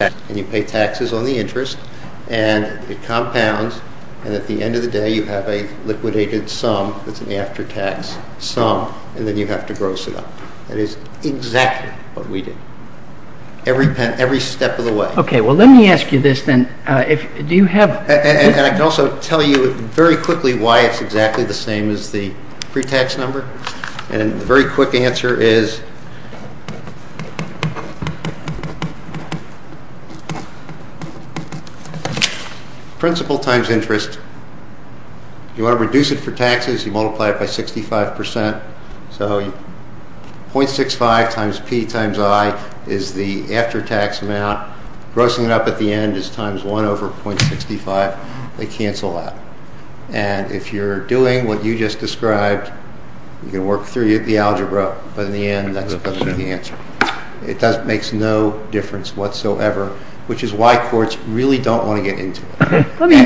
and you pay taxes on the interest and it compounds and at the end of the day you have a liquidated sum that's an after-tax sum and then you have to gross it up. That is exactly what we did. Every step of the way. Okay, well let me ask you this then. Do you have... And I can also tell you very quickly why it's exactly the same as the pre-tax number. And the very quick answer is principle times interest. You want to reduce it for taxes. You multiply it by 65%. So 0.65 times P times I is the after-tax amount. Grossing it up at the end is times 1 over 0.65. They cancel out. And if you're doing what you just described, you can work through the algebra, but in the end that's going to be the answer. It makes no difference whatsoever, which is why courts really don't want to get into it. Let me...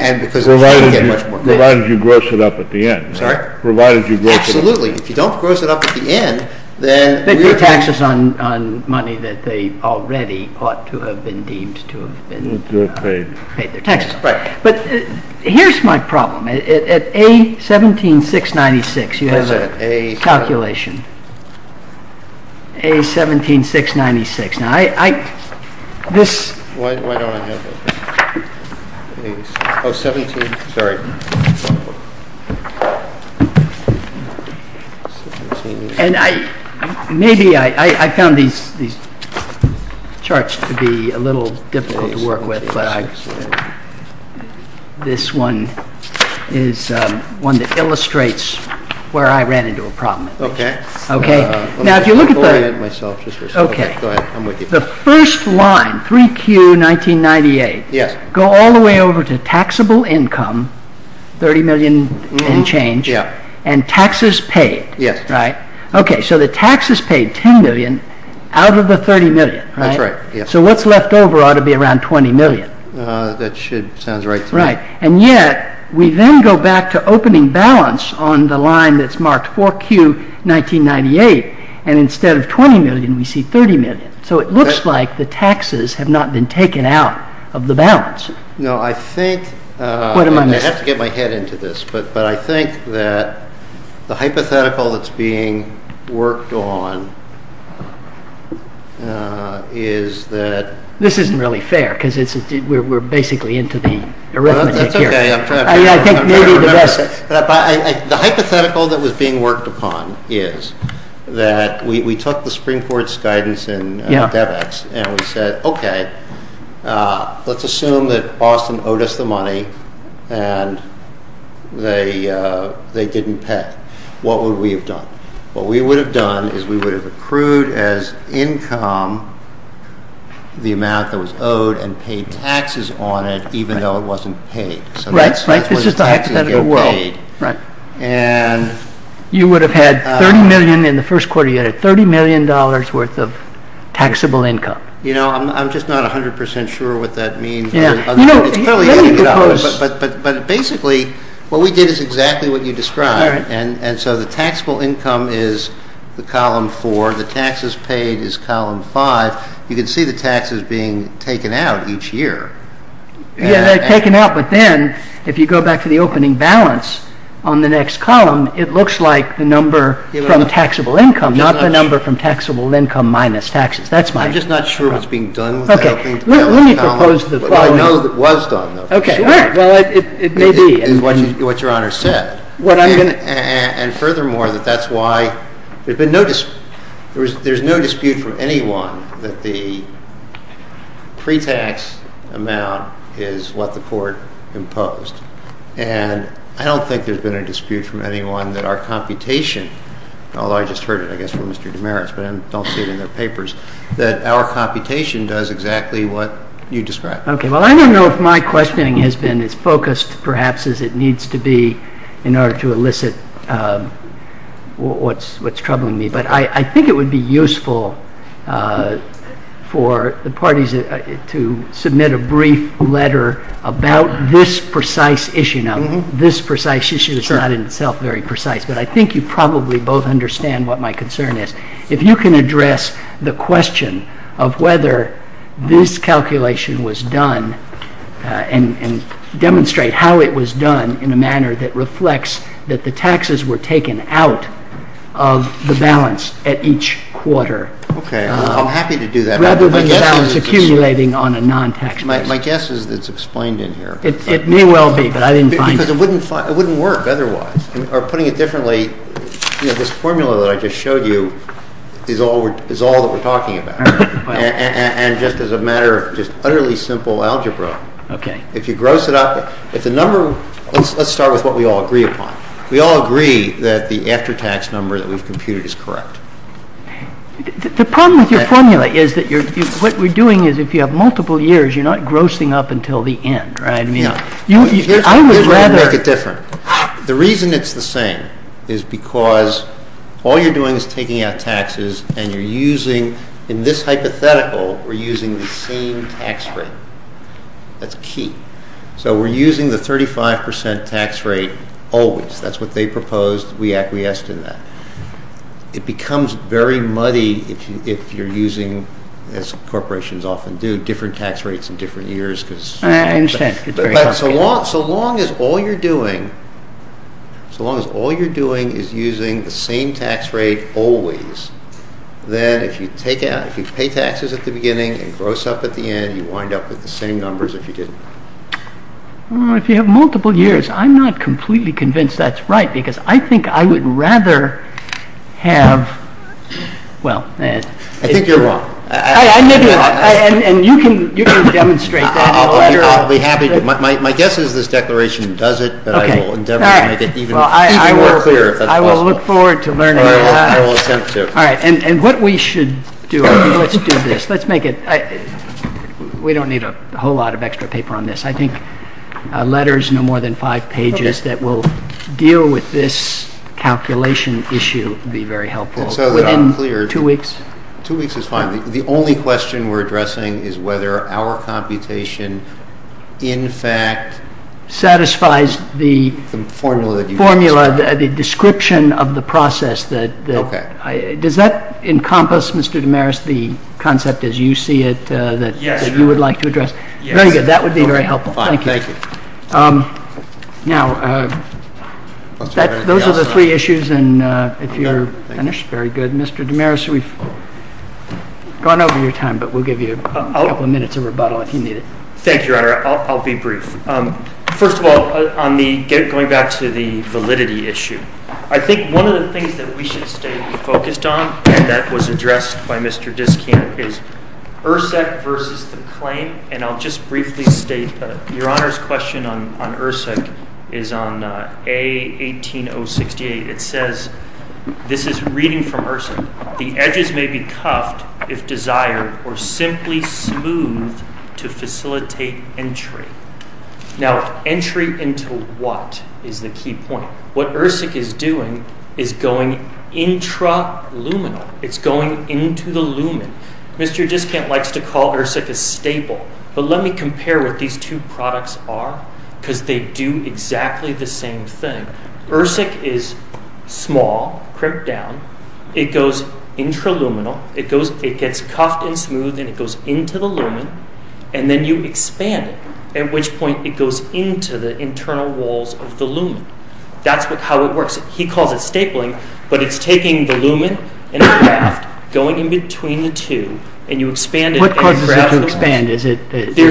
Provided you gross it up at the end. Provided you gross it up at the end. Absolutely. If you don't gross it up at the end, then... They pay taxes on money that they already ought to have been deemed to have paid their taxes on. But here's my problem. At A17,696, you have a calculation. A17,696. Now, I... This... Why don't I have it? Oh, 17... Sorry. And I... Maybe I found these charts to be a little difficult to work with, but I... This one is one that illustrates where I ran into a problem. Okay. Okay. Now, if you look at the... I'll orient myself just for a second. Okay. Go ahead. I'm with you. The first line, 3Q1998, go all the way over to taxable income, 30 million and change, and taxes paid. Yes. Right? Okay. So the taxes paid, 10 million, out of the 30 million. That's right. So what's left over ought to be around 20 million. That should... Sounds right to me. Right. And yet, we then go back to opening balance on the line that's marked 4Q1998, and instead of 20 million, we see 30 million. So it looks like the taxes have not been taken out of the balance. No, I think... What am I missing? I have to get my head into this, but I think that the hypothetical that's being worked on is that... This isn't really fair because we're basically into the arithmetic here. That's okay. I'm trying to... I think maybe the best... The hypothetical that was being worked upon is that we took the Supreme Court's guidance in DevEx, and we said, okay, let's assume that Austin owed us the money, and they didn't pay. What would we have done? What we would have done is we would have accrued as income the amount that was owed and paid taxes on it, even though it wasn't paid. Right, right. So that's where the taxes get paid. Right. And... You would have had 30 million in the first quarter. You had $30 million worth of taxable income. You know, I'm just not 100% sure what that means. Yeah. But basically, what we did is exactly what you described, and so the taxable income is the column four. The taxes paid is column five. You can see the taxes being taken out each year. Yeah, they're taken out, but then if you go back to the opening balance on the next column, it looks like the number from taxable income, not the number from taxable income minus taxes. That's my... I'm just not sure what's being done with the opening balance column. Okay. Let me propose the following. What I know that was done, though, for sure. Okay. All right. Well, it may be. It's what Your Honor said. What I'm going to... And furthermore, that that's why there's been no dispute. There's no dispute from anyone that the pre-tax amount is what the court imposed, and I don't think there's been a dispute from anyone that our computation, although I just heard it, I guess, from Mr. Demarest, but I don't see it in their papers, that our computation does exactly what you described. Okay. Well, I don't know if my questioning has been as focused, perhaps, as it needs to be in order to elicit what's troubling me, but I think it would be useful for the parties to submit a brief letter about this precise issue. Now, this precise issue is not in itself very precise, but I think you probably both understand what my concern is. If you can address the question of whether this calculation was done and demonstrate how it was done in a manner that reflects that the taxes were taken out of the balance at each quarter. Okay. I'm happy to do that. Rather than the balance accumulating on a non-tax basis. My guess is it's explained in here. It may well be, but I didn't find it. Because it wouldn't work otherwise. Or putting it differently, this formula that I just showed you is all that we're talking about. And just as a matter of just utterly simple algebra. Okay. If you gross it up, if the number... Let's start with what we all agree upon. We all agree that the after-tax number that we've computed is correct. The problem with your formula is that what we're doing is if you have multiple years, you're not grossing up until the end, right? I would rather... Here's where I'd make it different. The reason it's the same is because all you're doing is taking out taxes and you're using, in this hypothetical, we're using the same tax rate. That's key. So we're using the 35% tax rate always. That's what they proposed. We acquiesced in that. It becomes very muddy if you're using, as corporations often do, different tax rates in different years because... I understand. So long as all you're doing is using the same tax rate always, then if you pay taxes at the beginning and gross up at the end, you wind up with the same numbers if you didn't. If you have multiple years, I'm not completely convinced that's right because I think I would rather have... I think you're wrong. And you can demonstrate that. I'll be happy to. My guess is this declaration does it, but I will endeavor to make it even more clear. I will look forward to learning more. I will attempt to. All right. And what we should do, let's do this. Let's make it... We don't need a whole lot of extra paper on this. I think letters, no more than five pages, that will deal with this calculation issue would be very helpful within two weeks. Two weeks is fine. The only question we're addressing is whether our computation, in fact... Satisfies the formula, the description of the process. Okay. Does that encompass, Mr. DeMaris, the concept as you see it that you would like to address? Yes. Very good. That would be very helpful. Thank you. Thank you. Now, those are the three issues. And if you're finished, very good. Mr. DeMaris, we've gone over your time, but we'll give you a couple of minutes of rebuttal if you need it. Thank you, Your Honor. I'll be brief. First of all, going back to the validity issue, I think one of the things that we should stay focused on, and that was addressed by Mr. Diskin, is ERSEC versus the claim. And I'll just briefly state that Your Honor's question on ERSEC is on A18068. It says, this is reading from ERSEC, the edges may be cuffed if desired or simply smoothed to facilitate entry. Now, entry into what is the key point? What ERSEC is doing is going intra-luminal. It's going into the lumen. Mr. Diskin likes to call ERSEC a staple, but let me compare what these two products are because they do exactly the same thing. ERSEC is small, crimped down. It goes intra-luminal. It gets cuffed and smoothed, and it goes into the lumen, and then you expand it, at which point it goes into the internal walls of the lumen. That's how it works. He calls it stapling, but it's taking the lumen and a graft, going in between the two, and you expand it. What causes it to expand? Does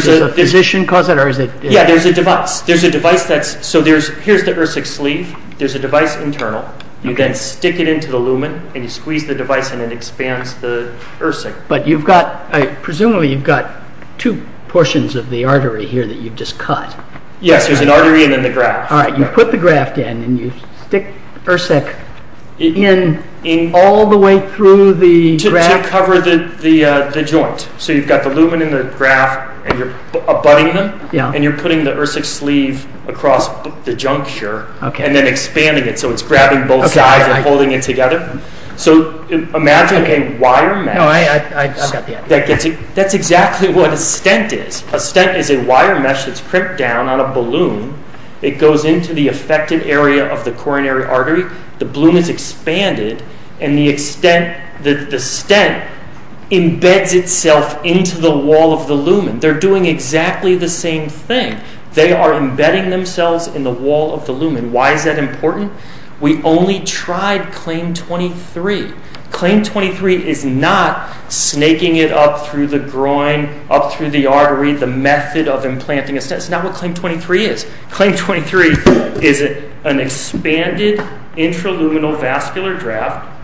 a physician cause it? Yeah, there's a device. Here's the ERSEC sleeve. There's a device internal. You then stick it into the lumen, and you squeeze the device, and it expands the ERSEC. But presumably you've got two portions of the artery here that you've just cut. Yes, there's an artery and then the graft. All right, you put the graft in, and you stick ERSEC in all the way through the graft. To cover the joint. So you've got the lumen and the graft, and you're abutting them, and you're putting the ERSEC sleeve across the juncture and then expanding it so it's grabbing both sides and holding it together. Imagine a wire mesh. I've got the idea. That's exactly what a stent is. A stent is a wire mesh that's crimped down on a balloon. It goes into the affected area of the coronary artery. The bloom is expanded, and the stent embeds itself into the wall of the lumen. They're doing exactly the same thing. They are embedding themselves in the wall of the lumen. Why is that important? We only tried CLAIM-23. CLAIM-23 is not snaking it up through the groin, up through the artery, the method of implanting a stent. That's not what CLAIM-23 is. CLAIM-23 is an expanded intraluminal vascular graft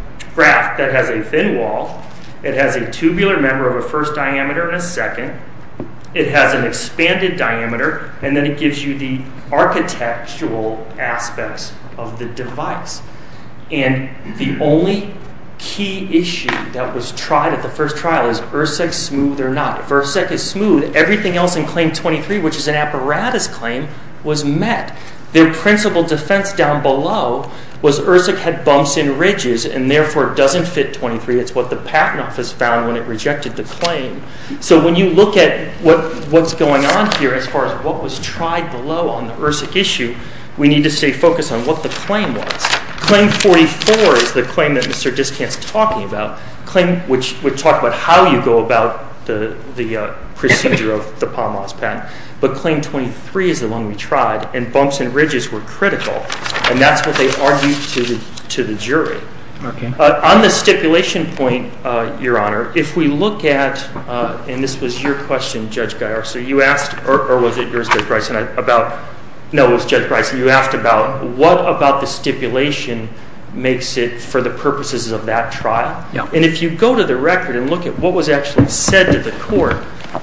that has a thin wall. It has a tubular member of a first diameter and a second. It has an expanded diameter, and then it gives you the architectural aspects of the device. And the only key issue that was tried at the first trial is ERSEC smooth or not. If ERSEC is smooth, everything else in CLAIM-23, which is an apparatus claim, was met. Their principal defense down below was ERSEC had bumps and ridges and therefore doesn't fit 23. It's what the Patent Office found when it rejected the claim. So when you look at what's going on here as far as what was tried below on the ERSEC issue, we need to stay focused on what the claim was. CLAIM-44 is the claim that Mr. Discant is talking about, a claim which would talk about how you go about the procedure of the Pomaz patent. But CLAIM-23 is the one we tried, and bumps and ridges were critical. And that's what they argued to the jury. On the stipulation point, Your Honor, if we look at, and this was your question, Judge Gaiar, so you asked about what about the stipulation makes it for the purposes of that trial. And if you go to the record and look at what was actually said to the court,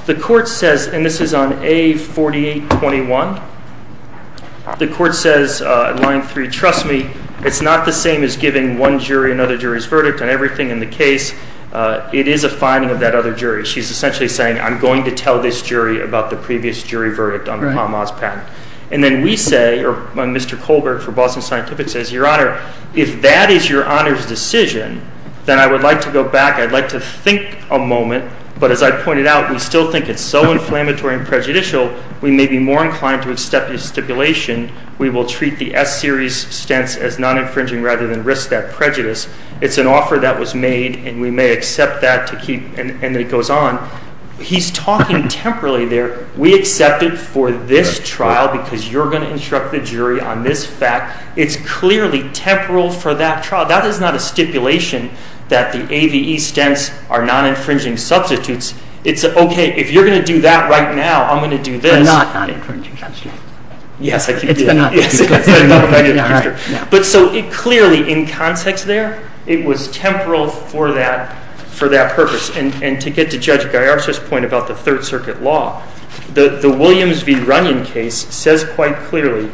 the court says, and this is on A4821, the court says in line 3, trust me, it's not the same as giving one jury another jury's verdict on everything in the case. It is a finding of that other jury. She's essentially saying I'm going to tell this jury about the previous jury verdict on the Pomaz patent. And then we say, or Mr. Colbert from Boston Scientific says, Your Honor, if that is Your Honor's decision, then I would like to go back. I'd like to think a moment. But as I pointed out, we still think it's so inflammatory and prejudicial, we may be more inclined to accept the stipulation. We will treat the S-series stents as non-infringing rather than risk that prejudice. It's an offer that was made, and we may accept that to keep, and it goes on. He's talking temporally there. We accept it for this trial because you're going to instruct the jury on this fact. It's clearly temporal for that trial. That is not a stipulation that the AVE stents are non-infringing substitutes. It's, okay, if you're going to do that right now, I'm going to do this. They're not non-infringing substitutes. Yes, I can do that. But so clearly in context there, it was temporal for that purpose. And to get to Judge Gallarza's point about the Third Circuit law, the Williams v. Runyon case says quite clearly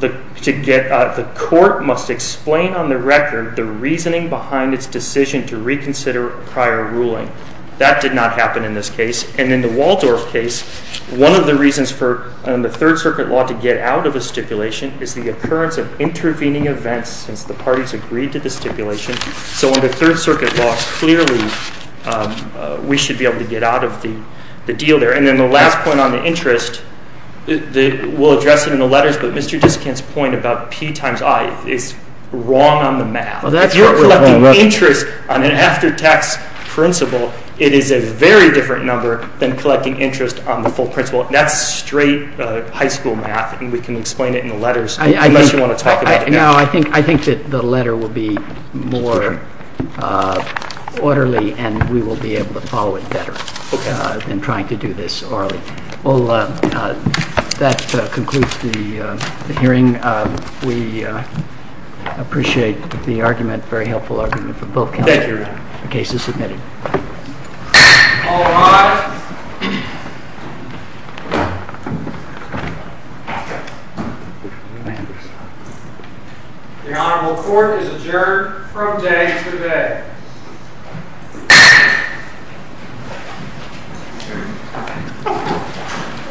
the court must explain on the record the reasoning behind its decision to reconsider a prior ruling. That did not happen in this case. And in the Waldorf case, one of the reasons for the Third Circuit law to get out of a stipulation is the occurrence of intervening events since the parties agreed to the stipulation. So under Third Circuit law, clearly we should be able to get out of the deal there. And then the last point on the interest, we'll address it in the letters, but Mr. Diskin's point about P times I is wrong on the math. If you're collecting interest on an after-tax principle, it is a very different number than collecting interest on the full principle. That's straight high school math, and we can explain it in the letters unless you want to talk about it now. I think that the letter will be more orderly, and we will be able to follow it better than trying to do this orally. Well, that concludes the hearing. We appreciate the argument, a very helpful argument, for both cases submitted. All rise. The Honorable Court is adjourned from day to day.